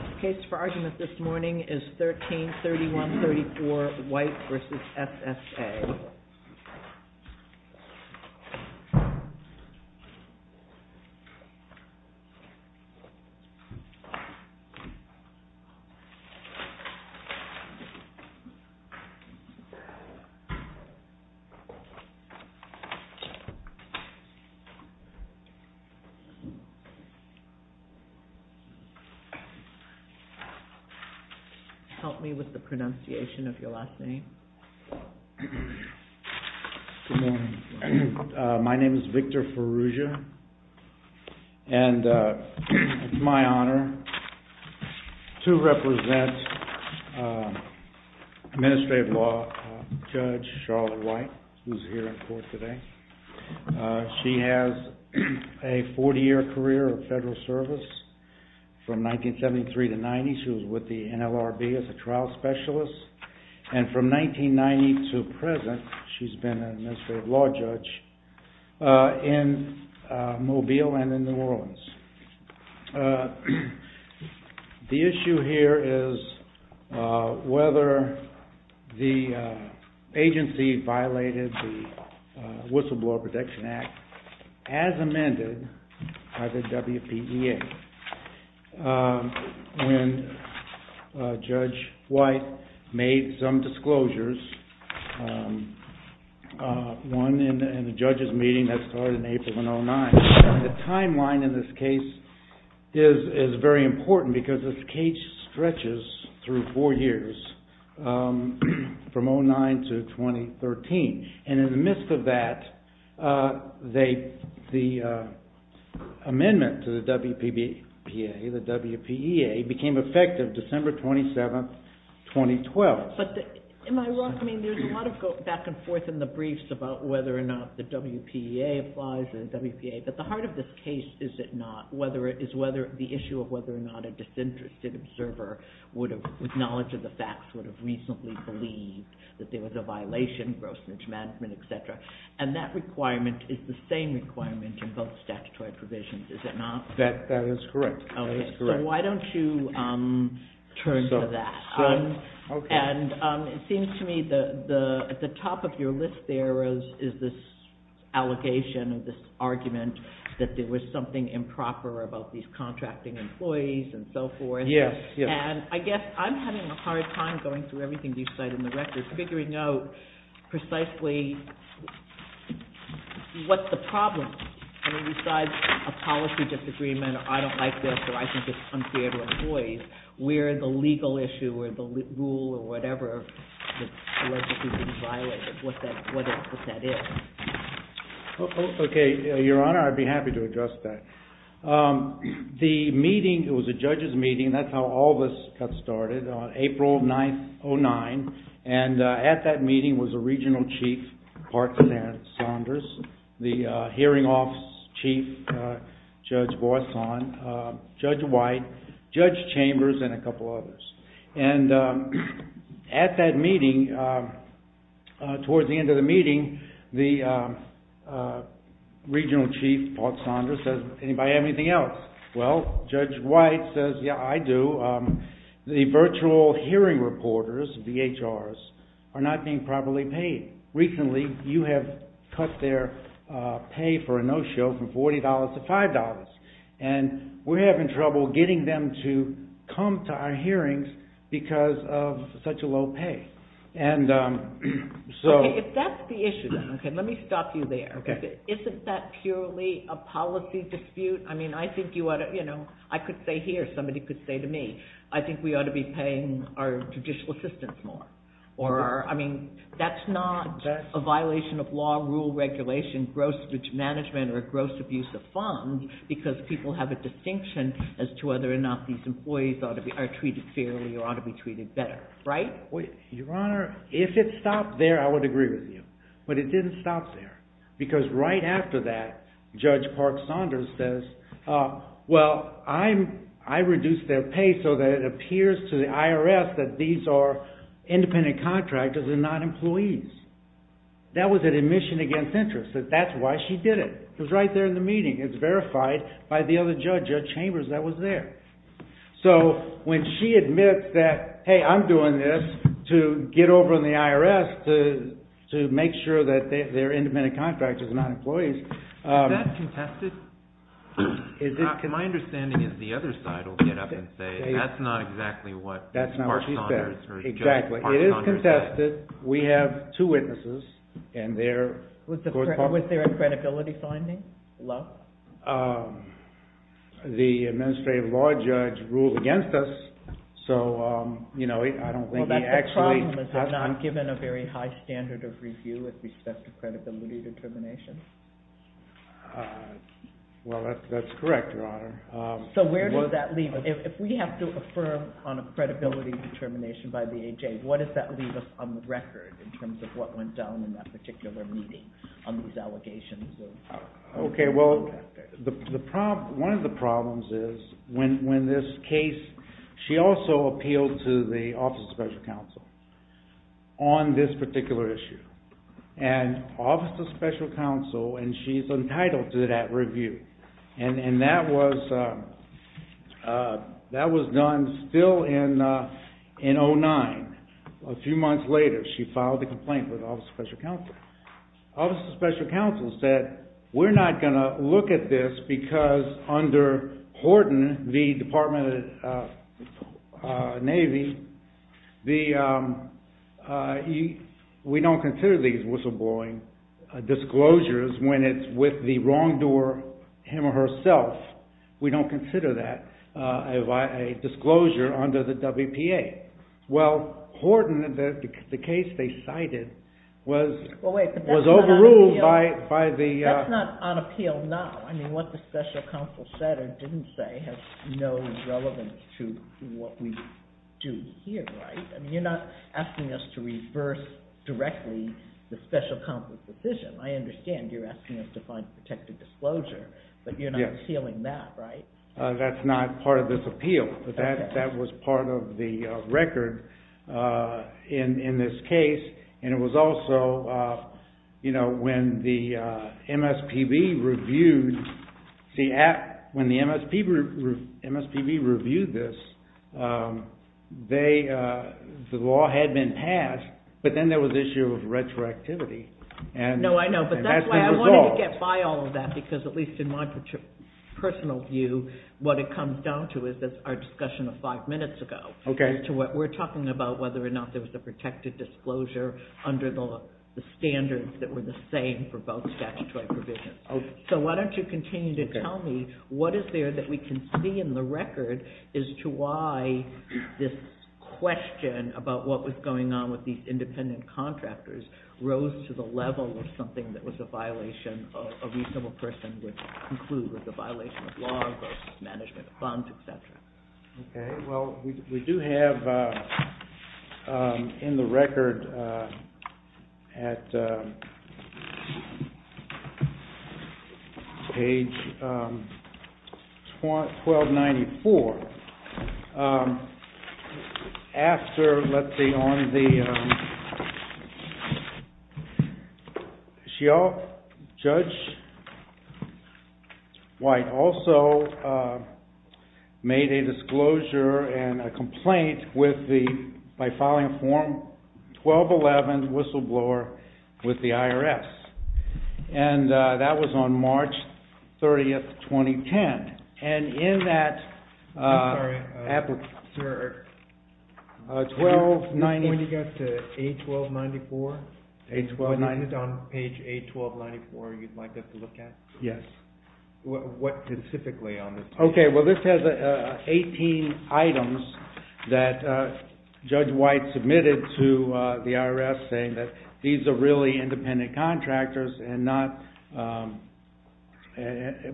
The case for argument this morning is 13-3134 White v. SSA. Help me with the pronunciation of your last name. Good morning. My name is Victor Farrugia and it's my honor to represent Administrative Law Judge Charlotte White, who is here in court today. She has a 40-year career of federal service from 1973 to 1990. She was with the NLRB as a trial specialist. And from 1990 to present, she's been an Administrative Law Judge in Mobile and in New Orleans. The issue here is whether the agency violated the Whistleblower Protection Act as amended by the WPEA. When Judge White made some disclosures, one in a judge's meeting that started in April of 2009. The timeline in this case is very important because this case stretches through four years, from 2009 to 2013. And in the midst of that, the amendment to the WPEA became effective December 27, 2012. But am I wrong? I mean, there's a lot of back and forth in the briefs about whether or not the WPEA applies to the WPA. But the heart of this case is whether the issue of whether or not a disinterested observer, with knowledge of the facts, would have reasonably believed that there was a violation, gross mismanagement, etc. And that requirement is the same requirement in both statutory provisions, is it not? That is correct. So why don't you turn to that? And it seems to me that at the top of your list there is this allegation, this argument, that there was something improper about these contracting employees and so forth. Yes, yes. And I guess I'm having a hard time going through everything you've said in the records, figuring out precisely what the problem is. I mean, besides a policy disagreement, I don't like this, or I think it's unfair to employees, where the legal issue or the rule or whatever that allegedly violated, what that is. Okay, Your Honor, I'd be happy to address that. The meeting, it was a judge's meeting, that's how all this got started, on April 9th, 2009. And at that meeting was a regional chief, Park Saunders, the hearing office chief, Judge Boisson, Judge White, Judge Chambers, and a couple others. And at that meeting, towards the end of the meeting, the regional chief, Park Saunders, says, anybody have anything else? Well, Judge White says, yeah, I do. The virtual hearing reporters, VHRs, are not being properly paid. Recently, you have cut their pay for a no-show from $40 to $5. And we're having trouble getting them to come to our hearings because of such a low pay. Okay, if that's the issue, then, let me stop you there. Isn't that purely a policy dispute? I mean, I think you ought to, you know, I could say here, somebody could say to me, I think we ought to be paying our judicial assistants more. Or, I mean, that's not a violation of law, rule, regulation, gross management, or gross abuse of funds, because people have a distinction as to whether or not these employees are treated fairly or ought to be treated better. Right? Your Honor, if it stopped there, I would agree with you. But it didn't stop there. Because right after that, Judge Park Saunders says, well, I reduced their pay so that it appears to the IRS that these are independent contractors and not employees. That was an admission against interest. That's why she did it. It was right there in the meeting. It's verified by the other judge, Judge Chambers, that was there. So, when she admits that, hey, I'm doing this to get over in the IRS to make sure that they're independent contractors and not employees. Is that contested? My understanding is the other side will get up and say, that's not exactly what Judge Park Saunders said. Exactly. It is contested. We have two witnesses. Was there a credibility finding? Love? The administrative law judge ruled against us. So, you know, I don't think he actually Well, that's the problem. Is it not given a very high standard of review with respect to credibility determination? Well, that's correct, Your Honor. So, where does that leave us? If we have to affirm on a credibility determination by the AJA, what does that leave us on the record in terms of what went down in that particular meeting on these allegations? Okay, well, one of the problems is when this case, she also appealed to the Office of Special Counsel on this particular issue. And Office of Special Counsel, and she's entitled to that review. And that was done still in 2009. A few months later, she filed a complaint with Office of Special Counsel. Office of Special Counsel said, we're not going to look at this because under Horton, the Department of the Navy, we don't consider these whistleblowing disclosures when it's with the wrongdoer, him or herself. We don't consider that a disclosure under the WPA. Well, Horton, the case they cited, was overruled by the… That's not on appeal now. I mean, what the Special Counsel said or didn't say has no relevance to what we do here, right? I mean, you're not asking us to reverse directly the Special Counsel's decision. I understand you're asking us to find protected disclosure, but you're not appealing that, right? That's not part of this appeal, but that was part of the record in this case. And it was also, you know, when the MSPB reviewed this, the law had been passed, but then there was the issue of retroactivity. No, I know. But that's why I wanted to get by all of that, because at least in my personal view, what it comes down to is our discussion of five minutes ago. Okay. We're talking about whether or not there was a protected disclosure under the standards that were the same for both statutory provisions. Okay. So why don't you continue to tell me what is there that we can see in the record as to why this question about what was going on with these independent contractors rose to the level of something that was a violation of a reasonable person would conclude was a violation of law versus management of funds, et cetera. Okay. Well, we do have in the record at page 1294, after, let's see, on the… Judge White also made a disclosure and a complaint with the, by filing a form 1211 whistleblower with the IRS. And that was on March 30th, 2010. And in that… I'm sorry, sir. 1290… Page 81294 you'd like us to look at? Yes. What specifically on this page? Okay. Well, this has 18 items that Judge White submitted to the IRS saying that these are really independent contractors and not,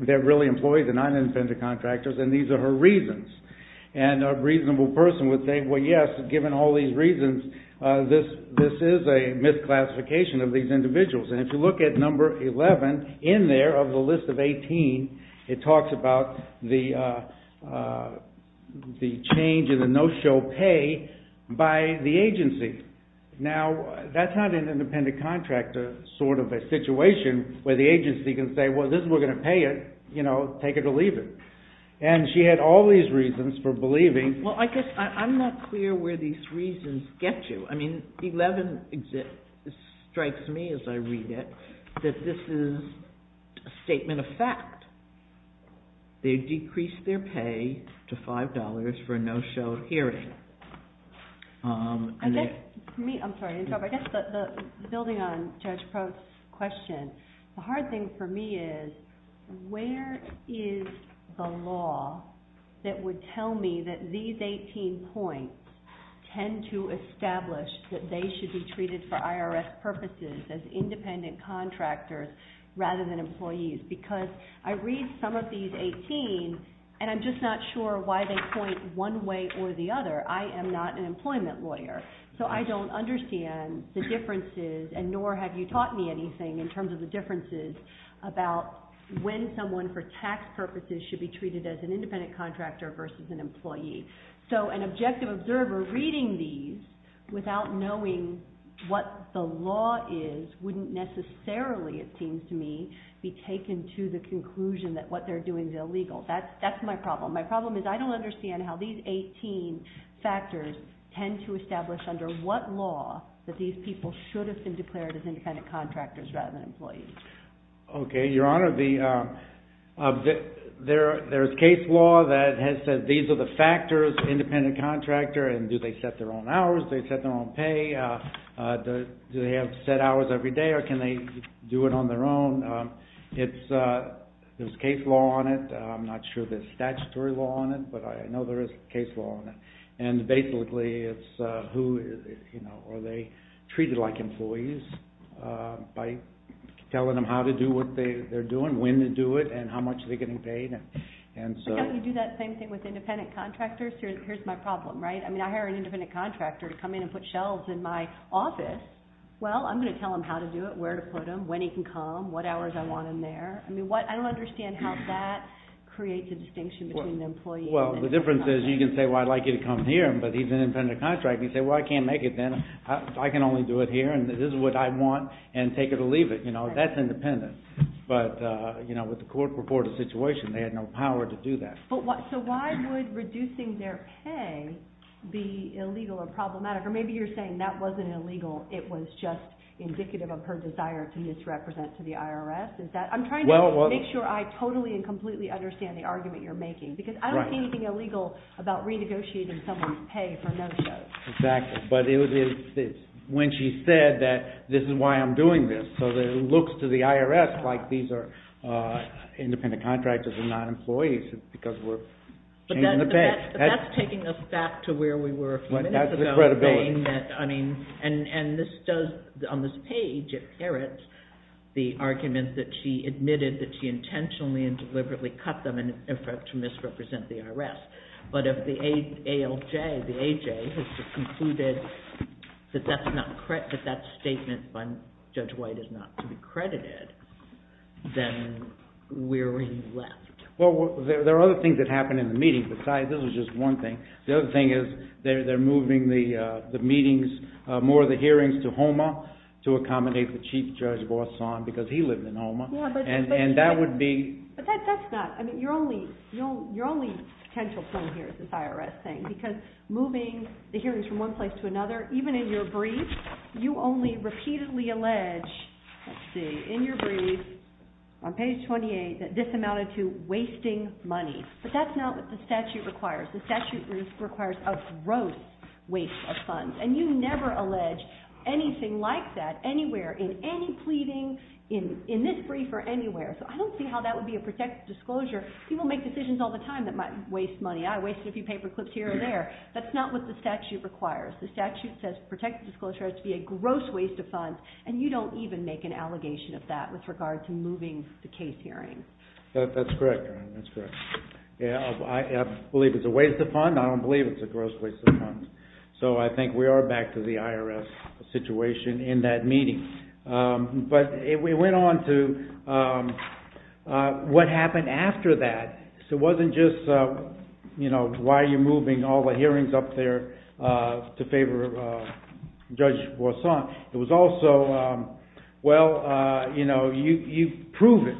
they're really employees and not independent contractors, and these are her reasons. And a reasonable person would say, well, yes, given all these reasons, this is a misclassification of these individuals. And if you look at number 11 in there of the list of 18, it talks about the change in the no-show pay by the agency. Now, that's not an independent contractor sort of a situation where the agency can say, well, this is, we're going to pay it, you know, take it or leave it. And she had all these reasons for believing… Well, I guess I'm not clear where these reasons get you. I mean, 11 strikes me as I read it that this is a statement of fact. They decreased their pay to $5 for a no-show hearing. I guess, for me, I'm sorry. I guess building on Judge Probst's question, the hard thing for me is where is the law that would tell me that these 18 points tend to establish that they should be treated for IRS purposes as independent contractors rather than employees? Because I read some of these 18, and I'm just not sure why they point one way or the other. I am not an employment lawyer, so I don't understand the differences, and nor have you taught me anything in terms of the differences about when someone for tax purposes should be treated as an independent contractor versus an employee. So an objective observer reading these without knowing what the law is wouldn't necessarily, it seems to me, be taken to the conclusion that what they're doing is illegal. That's my problem. My problem is I don't understand how these 18 factors tend to establish under what law that these people should have been declared as independent contractors rather than employees. Okay, Your Honor, there's case law that has said these are the factors, independent contractor, and do they set their own hours? Do they set their own pay? Do they have set hours every day, or can they do it on their own? There's case law on it. I'm not sure there's statutory law on it, but I know there is case law on it. And basically, it's who, you know, are they treated like employees by telling them how to do what they're doing, when to do it, and how much are they getting paid? You do that same thing with independent contractors. Here's my problem, right? I mean, I hire an independent contractor to come in and put shelves in my office. Well, I'm going to tell him how to do it, where to put them, when he can come, what hours I want him there. I mean, I don't understand how that creates a distinction between the employee and the contractor. Well, the difference is you can say, well, I'd like you to come here, but he's an independent contractor. You say, well, I can't make it then. I can only do it here, and this is what I want, and take it or leave it. You know, that's independent. But, you know, with the court purported situation, they had no power to do that. So why would reducing their pay be illegal or problematic? Or maybe you're saying that wasn't illegal. It was just indicative of her desire to misrepresent to the IRS. I'm trying to make sure I totally and completely understand the argument you're making. Because I don't see anything illegal about renegotiating someone's pay for no show. Exactly. But it was when she said that this is why I'm doing this. So it looks to the IRS like these are independent contractors and not employees because we're changing the pay. But that's taking us back to where we were a few minutes ago. That's the credibility. And this does, on this page, it parrots the argument that she admitted that she intentionally and deliberately cut them to misrepresent the IRS. But if the ALJ, the AJ, has concluded that that statement by Judge White is not to be credited, then we're left. Well, there are other things that happened in the meeting. Besides, this was just one thing. The other thing is they're moving the meetings, more of the hearings to HOMA to accommodate the Chief Judge Bosson because he lived in HOMA. But that's not, I mean, your only potential point here is this IRS thing. Because moving the hearings from one place to another, even in your brief, you only repeatedly allege, let's see, in your brief on page 28, that this amounted to wasting money. But that's not what the statute requires. The statute requires a gross waste of funds. And you never allege anything like that anywhere, in any pleading, in this brief or anywhere. So I don't see how that would be a protected disclosure. People make decisions all the time that might waste money. I wasted a few paper clips here and there. That's not what the statute requires. The statute says protected disclosure has to be a gross waste of funds. And you don't even make an allegation of that with regard to moving the case hearings. That's correct, Erin. That's correct. I believe it's a waste of funds. I don't believe it's a gross waste of funds. So I think we are back to the IRS situation in that meeting. But it went on to what happened after that. It wasn't just, you know, why are you moving all the hearings up there to favor Judge Bosson. It was also, well, you know, you prove it,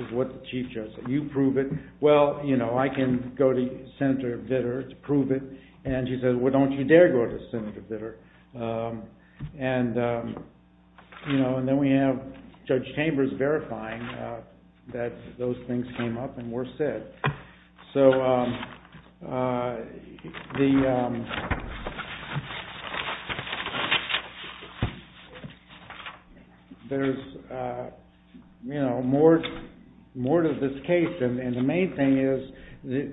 is what the Chief Judge said. You prove it. Well, you know, I can go to Senator Vitter to prove it. And she said, well, don't you dare go to Senator Vitter. And, you know, and then we have Judge Chambers verifying that those things came up and were said. So there's, you know, more to this case. And the main thing is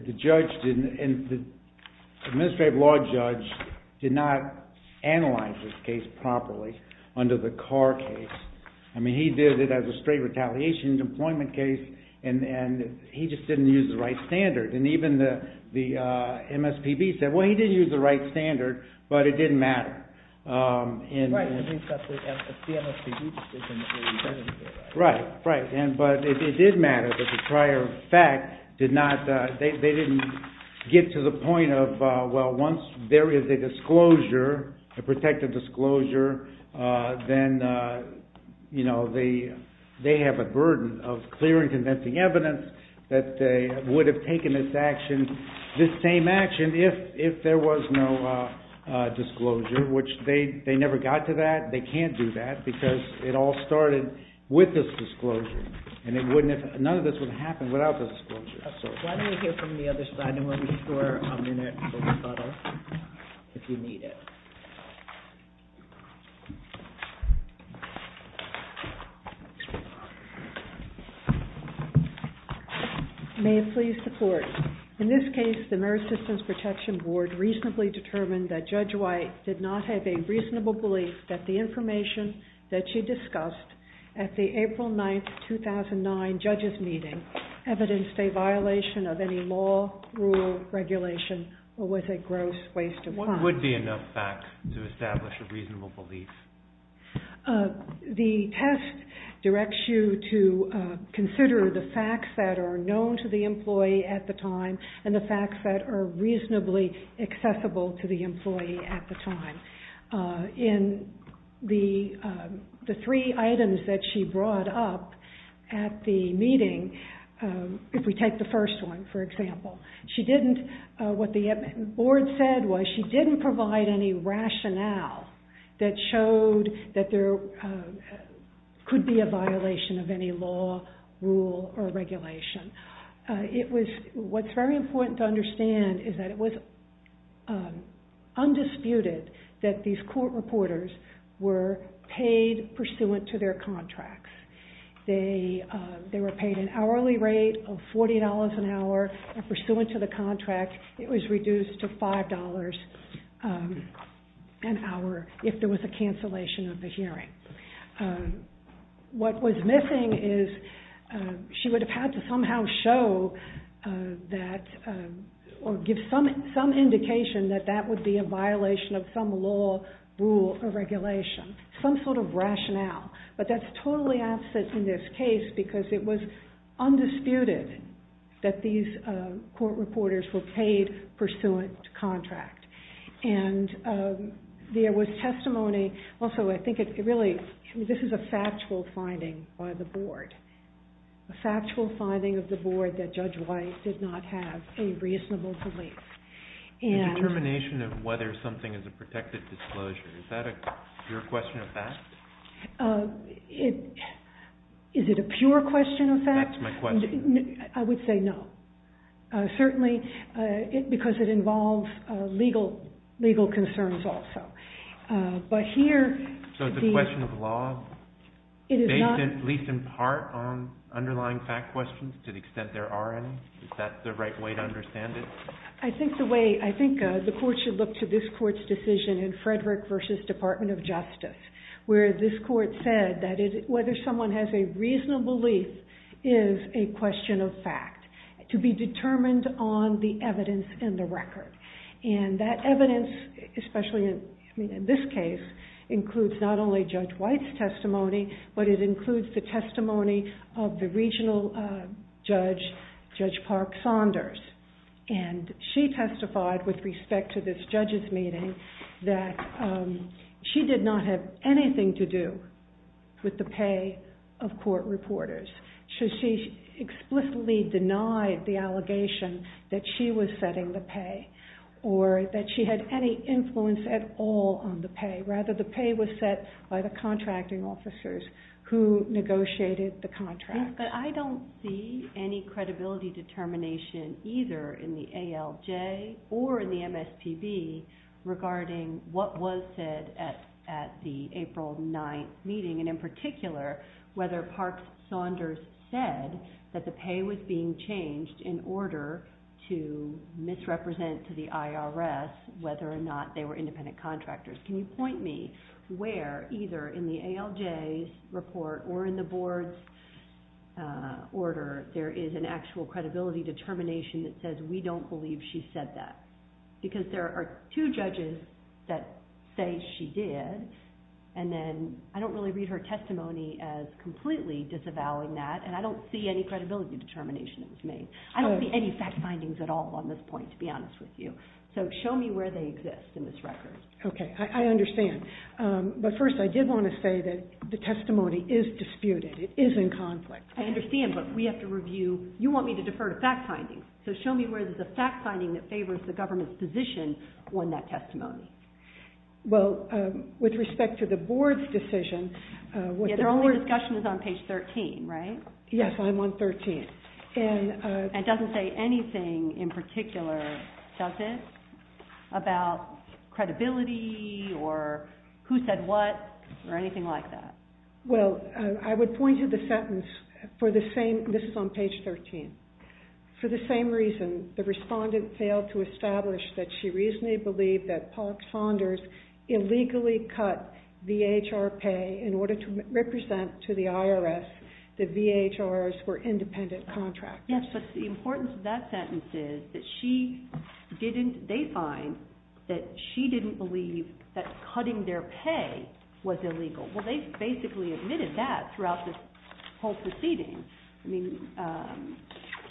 the judge didn't, the administrative law judge did not analyze this case properly under the Carr case. I mean, he did it as a straight retaliation employment case. And he just didn't use the right standard. And even the MSPB said, well, he did use the right standard, but it didn't matter. Right, because he's got the MSPB decision. Right, right. But it did matter that the prior fact did not, they didn't get to the point of, well, once there is a disclosure, a protected disclosure, then, you know, they have a burden of clear and convincing evidence that they would have taken this action, this same action, if there was no disclosure, which they never got to that. They can't do that because it all started with this disclosure. And it wouldn't have, none of this would have happened without this disclosure. Absolutely. Why don't we hear from the other side in a moment for a minute for a photo, if you need it. May it please the Court. In this case, the Merit Systems Protection Board reasonably determined that Judge White did not have a reasonable belief that the information that she discussed at the April 9, 2009 judges' meeting evidenced a violation of any law, rule, regulation, or was a gross waste of time. What would be enough facts to establish a reasonable belief? The test directs you to consider the facts that are known to the employee at the time and the facts that are reasonably accessible to the employee at the time. In the three items that she brought up at the meeting, if we take the first one, for example, she didn't, what the board said was she didn't provide any rationale that showed that there could be a violation of any law, rule, or regulation. It was, what's very important to understand is that it was undisputed that these court reporters were paid pursuant to their contracts. They were paid an hourly rate of $40 an hour pursuant to the contract. It was reduced to $5 an hour if there was a cancellation of the hearing. What was missing is she would have had to somehow show that or give some indication that that would be a violation of some law, rule, or regulation. Some sort of rationale, but that's totally absent in this case because it was undisputed that these court reporters were paid pursuant to contract. There was testimony, also I think it really, this is a factual finding by the board. A factual finding of the board that Judge White did not have any reasonable belief. The determination of whether something is a protected disclosure, is that a pure question of fact? Is it a pure question of fact? That's my question. I would say no. Certainly, because it involves legal concerns also. But here... So it's a question of law based at least in part on underlying fact questions to the extent there are any? Is that the right way to understand it? I think the way, I think the court should look to this court's decision in Frederick v. Department of Justice, where this court said that whether someone has a reasonable belief is a question of fact. To be determined on the evidence in the record. And that evidence, especially in this case, includes not only Judge White's testimony, but it includes the testimony of the regional judge, Judge Park Saunders. And she testified with respect to this judge's meeting that she did not have anything to do with the pay of court reporters. She explicitly denied the allegation that she was setting the pay. Or that she had any influence at all on the pay. Rather, the pay was set by the contracting officers who negotiated the contract. But I don't see any credibility determination either in the ALJ or in the MSPB regarding what was said at the April 9th meeting. And in particular, whether Park Saunders said that the pay was being changed in order to misrepresent to the IRS, whether or not they were independent contractors. Can you point me where, either in the ALJ's report or in the board's order, there is an actual credibility determination that says we don't believe she said that. Because there are two judges that say she did. And then I don't really read her testimony as completely disavowing that. And I don't see any credibility determination that was made. I don't see any fact findings at all on this point, to be honest with you. So show me where they exist in this record. Okay. I understand. But first, I did want to say that the testimony is disputed. It is in conflict. I understand, but we have to review. You want me to defer to fact findings. So show me where there's a fact finding that favors the government's position on that testimony. Well, with respect to the board's decision. Their only discussion is on page 13, right? Yes, I'm on 13. And it doesn't say anything in particular, does it? About credibility or who said what or anything like that. Well, I would point you to the sentence for the same. This is on page 13. For the same reason, the respondent failed to establish that she reasonably believed that Park Saunders illegally cut VHR pay in order to represent to the IRS that VHRs were independent contractors. Yes, but the importance of that sentence is that she didn't they find that she didn't believe that cutting their pay was illegal. Well, they basically admitted that throughout this whole proceeding. I mean, the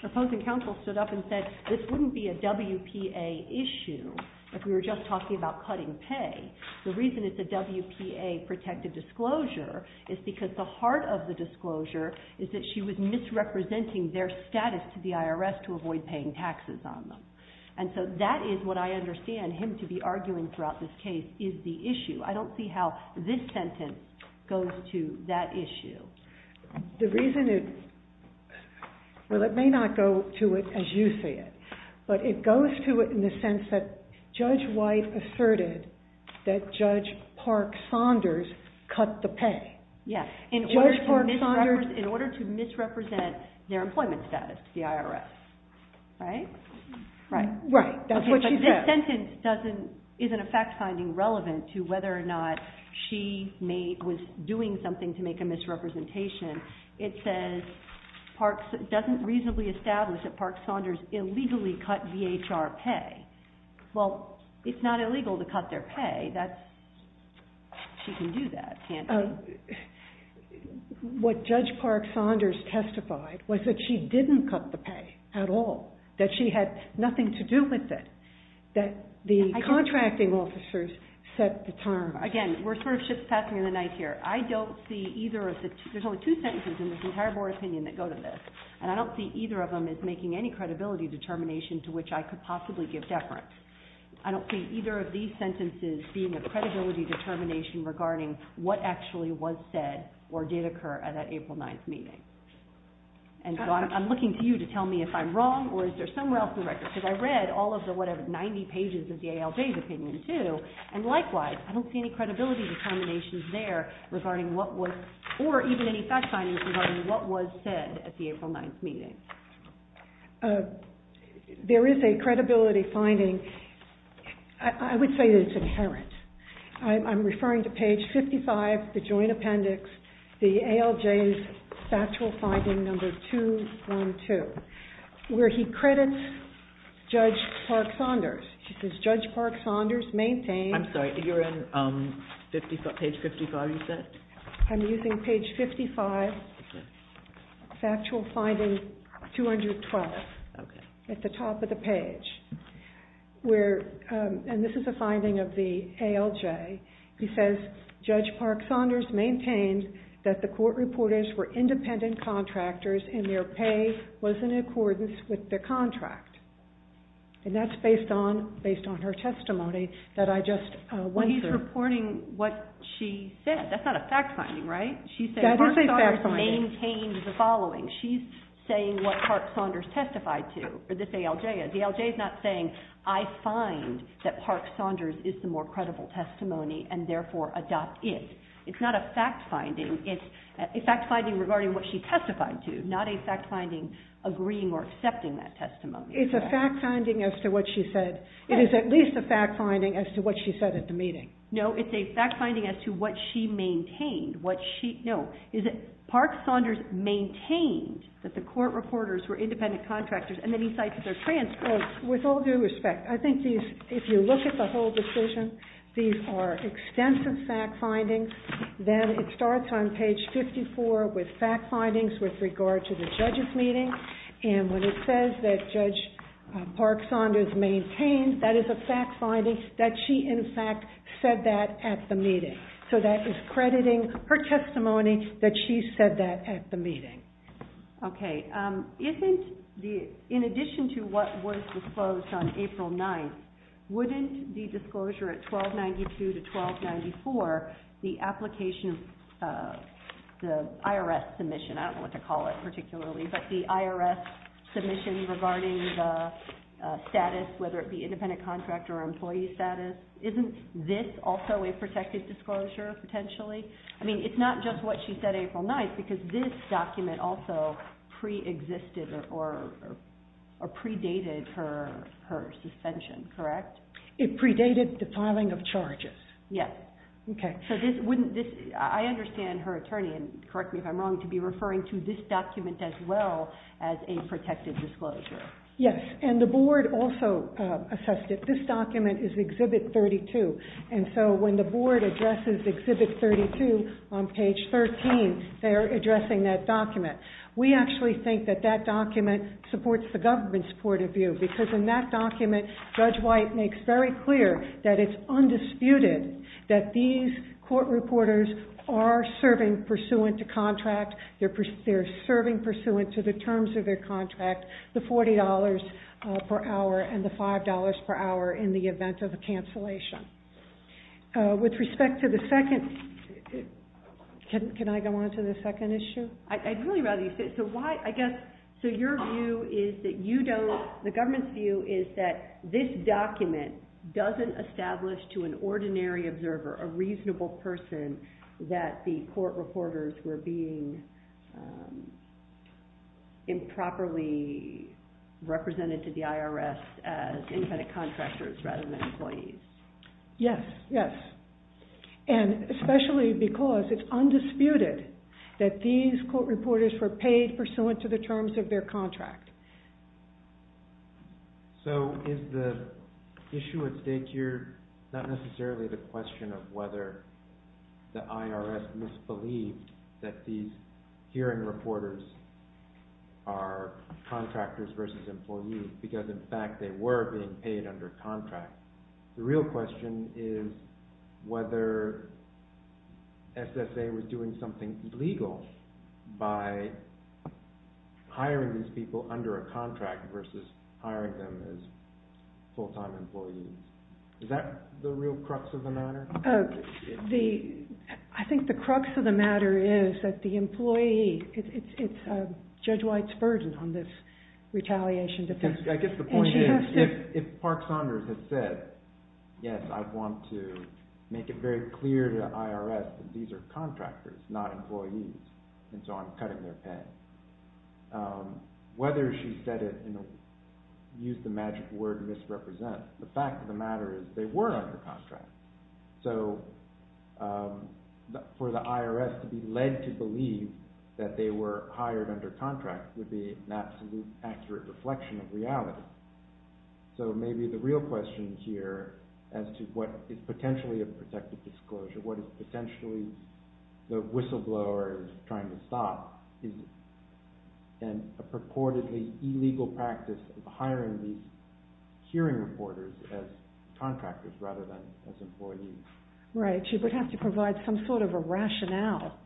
opposing counsel stood up and said this wouldn't be a WPA issue if we were just talking about cutting pay. The reason it's a WPA protective disclosure is because the heart of the disclosure is that she was misrepresenting their status to the IRS to avoid paying taxes on them. And so that is what I understand him to be arguing throughout this case is the issue. I don't see how this sentence goes to that issue. The reason it, well, it may not go to it as you see it, but it goes to it in the sense that Judge White asserted that Judge Park Saunders cut the pay. Yes, in order to misrepresent their employment status to the IRS, right? Right, that's what she said. The sentence isn't a fact-finding relevant to whether or not she was doing something to make a misrepresentation. It says, doesn't reasonably establish that Park Saunders illegally cut VHR pay. Well, it's not illegal to cut their pay. She can do that, can't she? What Judge Park Saunders testified was that she didn't cut the pay at all. That she had nothing to do with it. That the contracting officers set the time. Again, we're sort of just passing the night here. I don't see either of the, there's only two sentences in this entire board opinion that go to this. And I don't see either of them as making any credibility determination to which I could possibly give deference. I don't see either of these sentences being a credibility determination regarding what actually was said or did occur at that April 9th meeting. And so I'm looking to you to tell me if I'm wrong or is there somewhere else in the record. Because I read all of the, whatever, 90 pages of the ALJ's opinion too. And likewise, I don't see any credibility determinations there regarding what was, or even any fact findings regarding what was said at the April 9th meeting. There is a credibility finding. I would say that it's inherent. I'm referring to page 55, the joint appendix, the ALJ's factual finding number 212. Where he credits Judge Park Saunders. He says, Judge Park Saunders maintained. I'm sorry, you're in page 55, you said? I'm using page 55, factual finding 212 at the top of the page. And this is a finding of the ALJ. He says, Judge Park Saunders maintained that the court reporters were independent contractors and their pay was in accordance with their contract. And that's based on her testimony that I just went through. No, he's reporting what she said. That's not a fact finding, right? She's saying Park Saunders maintained the following. She's saying what Park Saunders testified to, or this ALJ is. The ALJ is not saying, I find that Park Saunders is the more credible testimony and therefore adopt it. It's not a fact finding. It's a fact finding regarding what she testified to, not a fact finding agreeing or accepting that testimony. It's a fact finding as to what she said. It is at least a fact finding as to what she said at the meeting. No, it's a fact finding as to what she maintained. What she, no. Is it Park Saunders maintained that the court reporters were independent contractors, and then he cites their transcripts. With all due respect, I think these, if you look at the whole decision, these are extensive fact findings. Then it starts on page 54 with fact findings with regard to the judge's meeting. When it says that Judge Park Saunders maintained, that is a fact finding that she, in fact, said that at the meeting. That is crediting her testimony that she said that at the meeting. Okay. In addition to what was disclosed on April 9th, wouldn't the disclosure at 1292 to 1294, the application of the IRS submission, I don't know what to call it particularly, but the IRS submission regarding the status, whether it be independent contractor or employee status, isn't this also a protected disclosure, potentially? I mean, it's not just what she said April 9th, because this document also pre-existed or predated her suspension, correct? It predated the filing of charges. Yes. Okay. I understand her attorney, and correct me if I'm wrong, to be referring to this document as well as a protected disclosure. Yes, and the board also assessed it. This document is Exhibit 32, and so when the board addresses Exhibit 32 on page 13, they are addressing that document. We actually think that that document supports the government's point of view, because in that document, Judge White makes very clear that it's undisputed that these court reporters are serving pursuant to contract. They're serving pursuant to the terms of their contract, the $40 per hour and the $5 per hour in the event of a cancellation. With respect to the second, can I go on to the second issue? I'd really rather you sit. So why, I guess, so your view is that you don't, the government's view is that this document doesn't establish to an ordinary observer, a reasonable person, that the court reporters were being improperly represented to the IRS as independent contractors rather than employees. Yes, yes, and especially because it's undisputed that these court reporters were paid pursuant to the terms of their contract. So is the issue at stake here not necessarily the question of whether the IRS misbelieved that these hearing reporters are contractors versus employees, because in fact they were being paid under contract. The real question is whether SSA was doing something illegal by hiring these people under a contract versus hiring them as full-time employees. Is that the real crux of the matter? I think the crux of the matter is that the employee, it's Judge White's burden on this retaliation defense. I guess the point is if Park Saunders had said, yes, I want to make it very clear to the IRS that these are contractors, not employees, and so I'm cutting their pay. Whether she said it and used the magic word misrepresent, the fact of the matter is they were under contract. So for the IRS to be led to believe that they were hired under contract would be an absolute accurate reflection of reality. So maybe the real question here as to what is potentially a protected disclosure, what is potentially the whistleblower trying to stop is a purportedly illegal practice of hiring these hearing reporters as contractors rather than as employees. Right, she would have to provide some sort of a rationale,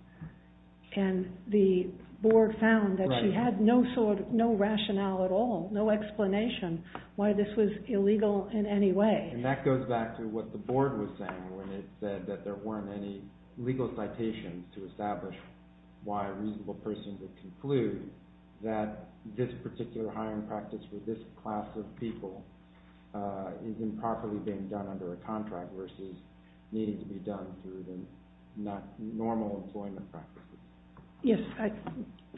and the board found that she had no rationale at all, no explanation why this was illegal in any way. And that goes back to what the board was saying when it said that there weren't any legal citations to establish why a reasonable person would conclude that this particular hiring practice for this class of people is improperly being done under a contract versus needing to be done through the normal employment practice. Yes,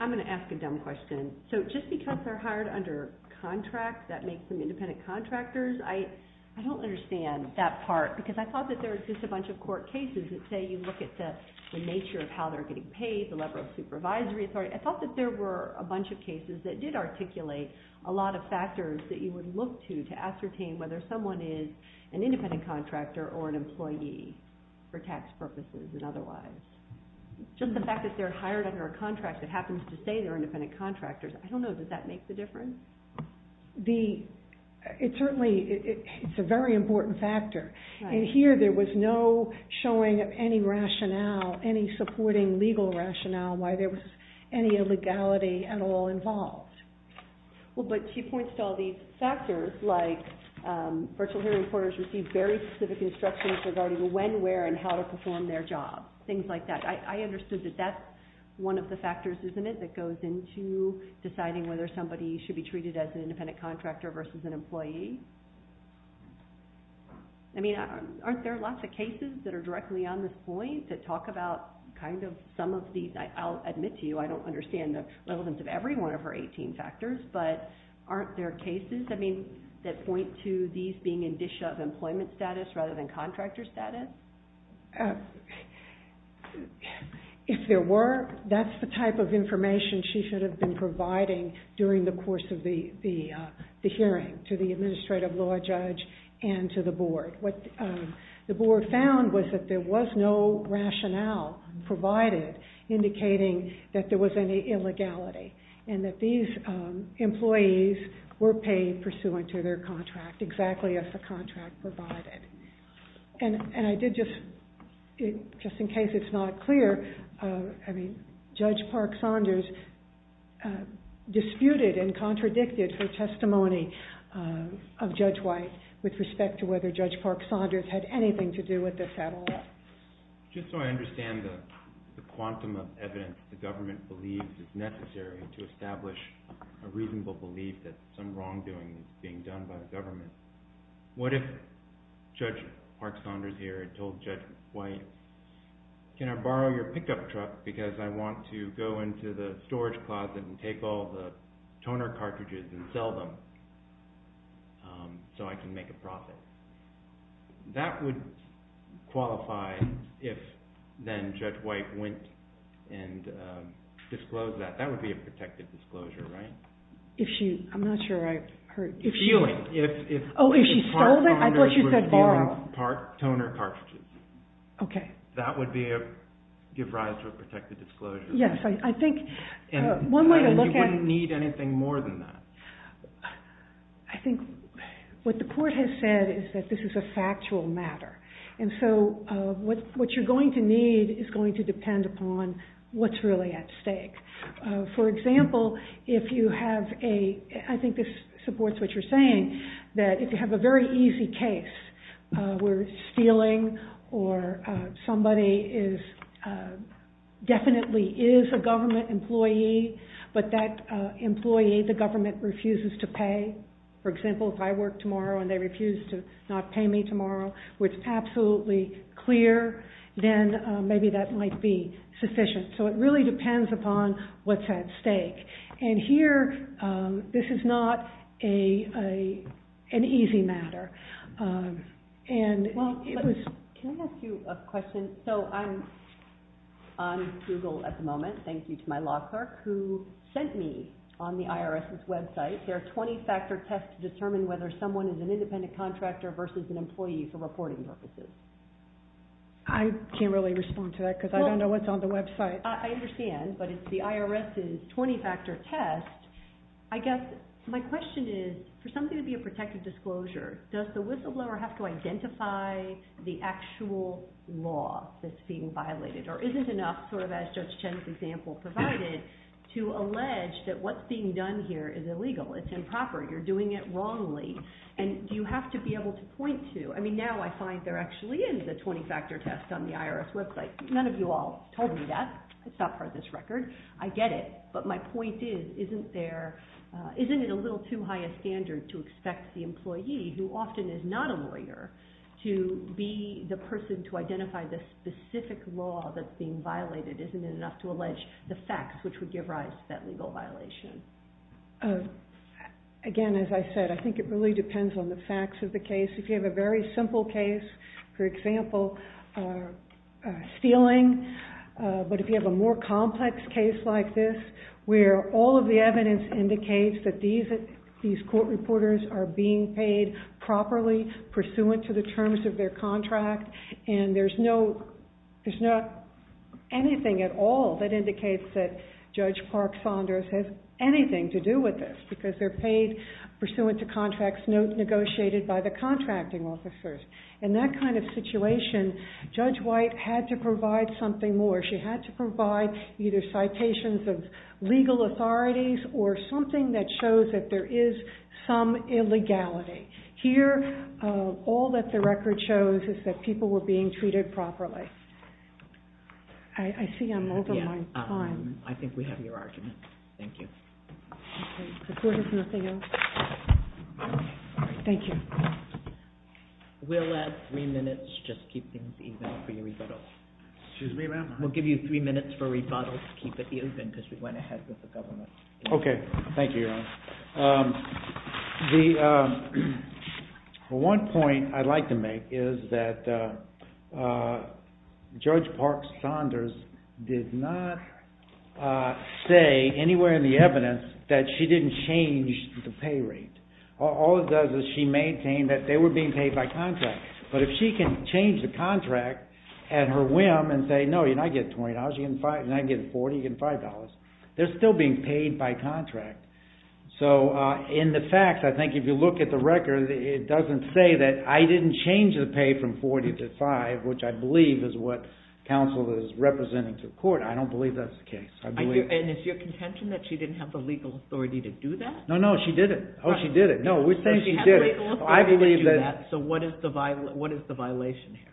I'm going to ask a dumb question. So just because they're hired under contract, that makes them independent contractors? I don't understand that part because I thought that there was just a bunch of court cases that say you look at the nature of how they're getting paid, the level of supervisory authority. I thought that there were a bunch of cases that did articulate a lot of factors that you would look to to ascertain whether someone is an independent contractor or an employee for tax purposes and otherwise. Just the fact that they're hired under a contract that happens to say they're independent contractors, I don't know, does that make the difference? It certainly, it's a very important factor. And here there was no showing of any rationale, any supporting legal rationale why there was any illegality at all involved. Well, but she points to all these factors like virtual hearing quarters receive very specific instructions regarding when, where, and how to perform their job. Things like that. I understood that that's one of the factors, isn't it, that goes into deciding whether somebody should be treated as an independent contractor versus an employee? I mean, aren't there lots of cases that are directly on this point that talk about kind of some of these? I'll admit to you, I don't understand the relevance of every one of her 18 factors, but aren't there cases, I mean, that point to these being indicia of employment status rather than contractor status? If there were, that's the type of information she should have been providing during the course of the hearing to the administrative law judge and to the board. What the board found was that there was no rationale provided indicating that there was any illegality and that these employees were paid pursuant to their contract, exactly as the contract provided. And I did just, just in case it's not clear, I mean, Judge Park Saunders disputed and contradicted her testimony of Judge White with respect to whether Judge Park Saunders was an independent contractor. I don't think Judge Park Saunders had anything to do with this at all. Just so I understand the quantum of evidence the government believes is necessary to establish a reasonable belief that some wrongdoing is being done by the government, what if Judge Park Saunders here had told Judge White, can I borrow your pickup truck because I want to go into the storage closet and take all the toner cartridges and sell them so I can make a profit. That would qualify if then Judge White went and disclosed that. That would be a protective disclosure, right? If she, I'm not sure I heard. Stealing. Oh, if she stole it, I thought she said borrow. If Judge Park Saunders was stealing toner cartridges. Okay. That would be a, give rise to a protective disclosure. Yes, I think one way to look at it. You wouldn't need anything more than that. I think what the court has said is that this is a factual matter. And so what you're going to need is going to depend upon what's really at stake. For example, if you have a, I think this supports what you're saying, that if you have a very easy case where stealing or somebody is, definitely is a government employee, but that employee, the government refuses to pay. For example, if I work tomorrow and they refuse to not pay me tomorrow, which is absolutely clear, then maybe that might be sufficient. So it really depends upon what's at stake. And here, this is not an easy matter. Can I ask you a question? So I'm on Google at the moment, thank you to my law clerk, who sent me on the IRS's website their 20-factor test to determine whether someone is an independent contractor versus an employee for reporting purposes. I can't really respond to that because I don't know what's on the website. I understand, but it's the IRS's 20-factor test. I guess my question is, for something to be a protected disclosure, does the whistleblower have to identify the actual law that's being violated? Or is it enough, sort of as Judge Chen's example provided, to allege that what's being done here is illegal, it's improper, you're doing it wrongly? And do you have to be able to point to? I mean, now I find there actually is a 20-factor test on the IRS website. None of you all told me that. It's not part of this record. I get it. But my point is, isn't it a little too high a standard to expect the employee, who often is not a lawyer, to be the person to identify the specific law that's being violated? Isn't it enough to allege the facts which would give rise to that legal violation? Again, as I said, I think it really depends on the facts of the case. If you have a very simple case, for example, stealing, but if you have a more complex case like this, where all of the evidence indicates that these court reporters are being paid properly, pursuant to the terms of their contract, and there's not anything at all that indicates that Judge Clark Saunders has anything to do with this, because they're paid pursuant to contracts negotiated by the contracting officers. In that kind of situation, Judge White had to provide something more. She had to provide either citations of legal authorities or something that shows that there is some illegality. Here, all that the record shows is that people were being treated properly. I see I'm over my time. I think we have your argument. Thank you. The court has nothing else. Thank you. We'll let three minutes just keep things even for your rebuttal. Excuse me, ma'am? We'll give you three minutes for rebuttal to keep it even, because we went ahead with the government. Okay. Thank you, Your Honor. The one point I'd like to make is that Judge Clark Saunders did not say anywhere in the evidence that she didn't change the pay rate. All it does is she maintained that they were being paid by contract, but if she can change the contract at her whim and say, no, you're not getting $20, you're not getting $40, you're getting $5, they're still being paid by contract. So, in the facts, I think if you look at the record, it doesn't say that I didn't change the pay from $40 to $5, which I believe is what counsel is representing to the court. I don't believe that's the case. And is your contention that she didn't have the legal authority to do that? No, no, she didn't. Oh, she did it. No, we're saying she did it. She had the legal authority to do that, so what is the violation here?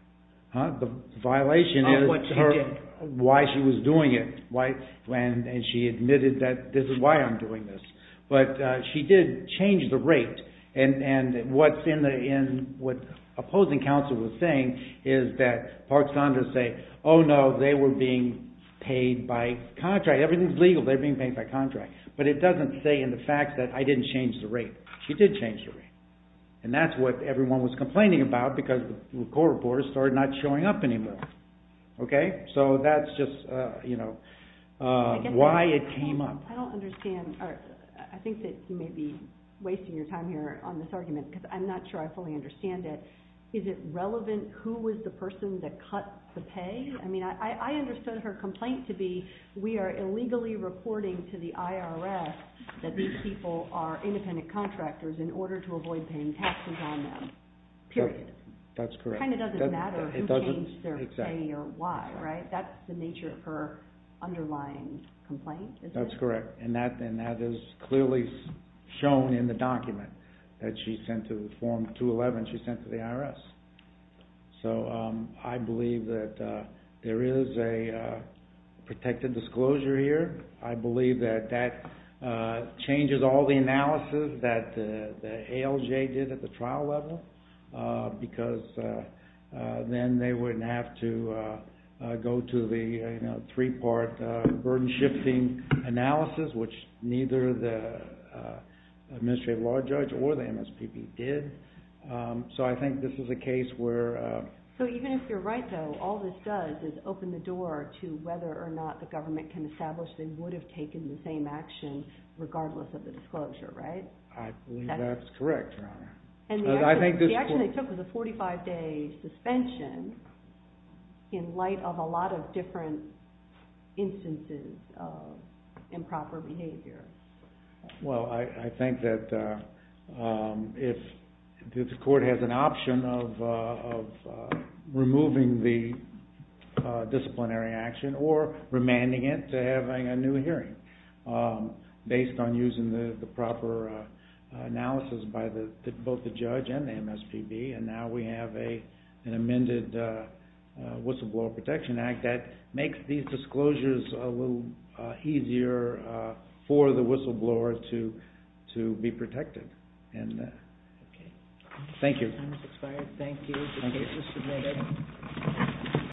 The violation is why she was doing it. She admitted that this is why I'm doing this. But she did change the rate, and what opposing counsel was saying is that Clark Saunders said, oh, no, they were being paid by contract. Everything is legal. They're being paid by contract. But it doesn't say in the facts that I didn't change the rate. She did change the rate, and that's what everyone was complaining about because the court reports started not showing up anymore. Okay, so that's just, you know, why it came up. I don't understand. I think that you may be wasting your time here on this argument because I'm not sure I fully understand it. Is it relevant who was the person that cut the pay? I mean, I understood her complaint to be we are illegally reporting to the IRS that these people are independent contractors in order to avoid paying taxes on them, period. That's correct. It kind of doesn't matter who changed their pay or why, right? That's the nature of her underlying complaint, isn't it? That's correct, and that is clearly shown in the document that she sent to the form 211 she sent to the IRS. So I believe that there is a protected disclosure here. I believe that that changes all the analysis that the ALJ did at the trial level because then they wouldn't have to go to the, you know, three-part burden-shifting analysis, which neither the administrative law judge or the MSPB did. So I think this is a case where... regardless of the disclosure, right? I believe that's correct, Your Honor. And the action they took was a 45-day suspension in light of a lot of different instances of improper behavior. Well, I think that if the court has an option of removing the disciplinary action or remanding it to having a new hearing based on using the proper analysis by both the judge and the MSPB, and now we have an amended Whistleblower Protection Act, that makes these disclosures a little easier for the whistleblower to be protected. Thank you. Time has expired. Thank you. Thank you.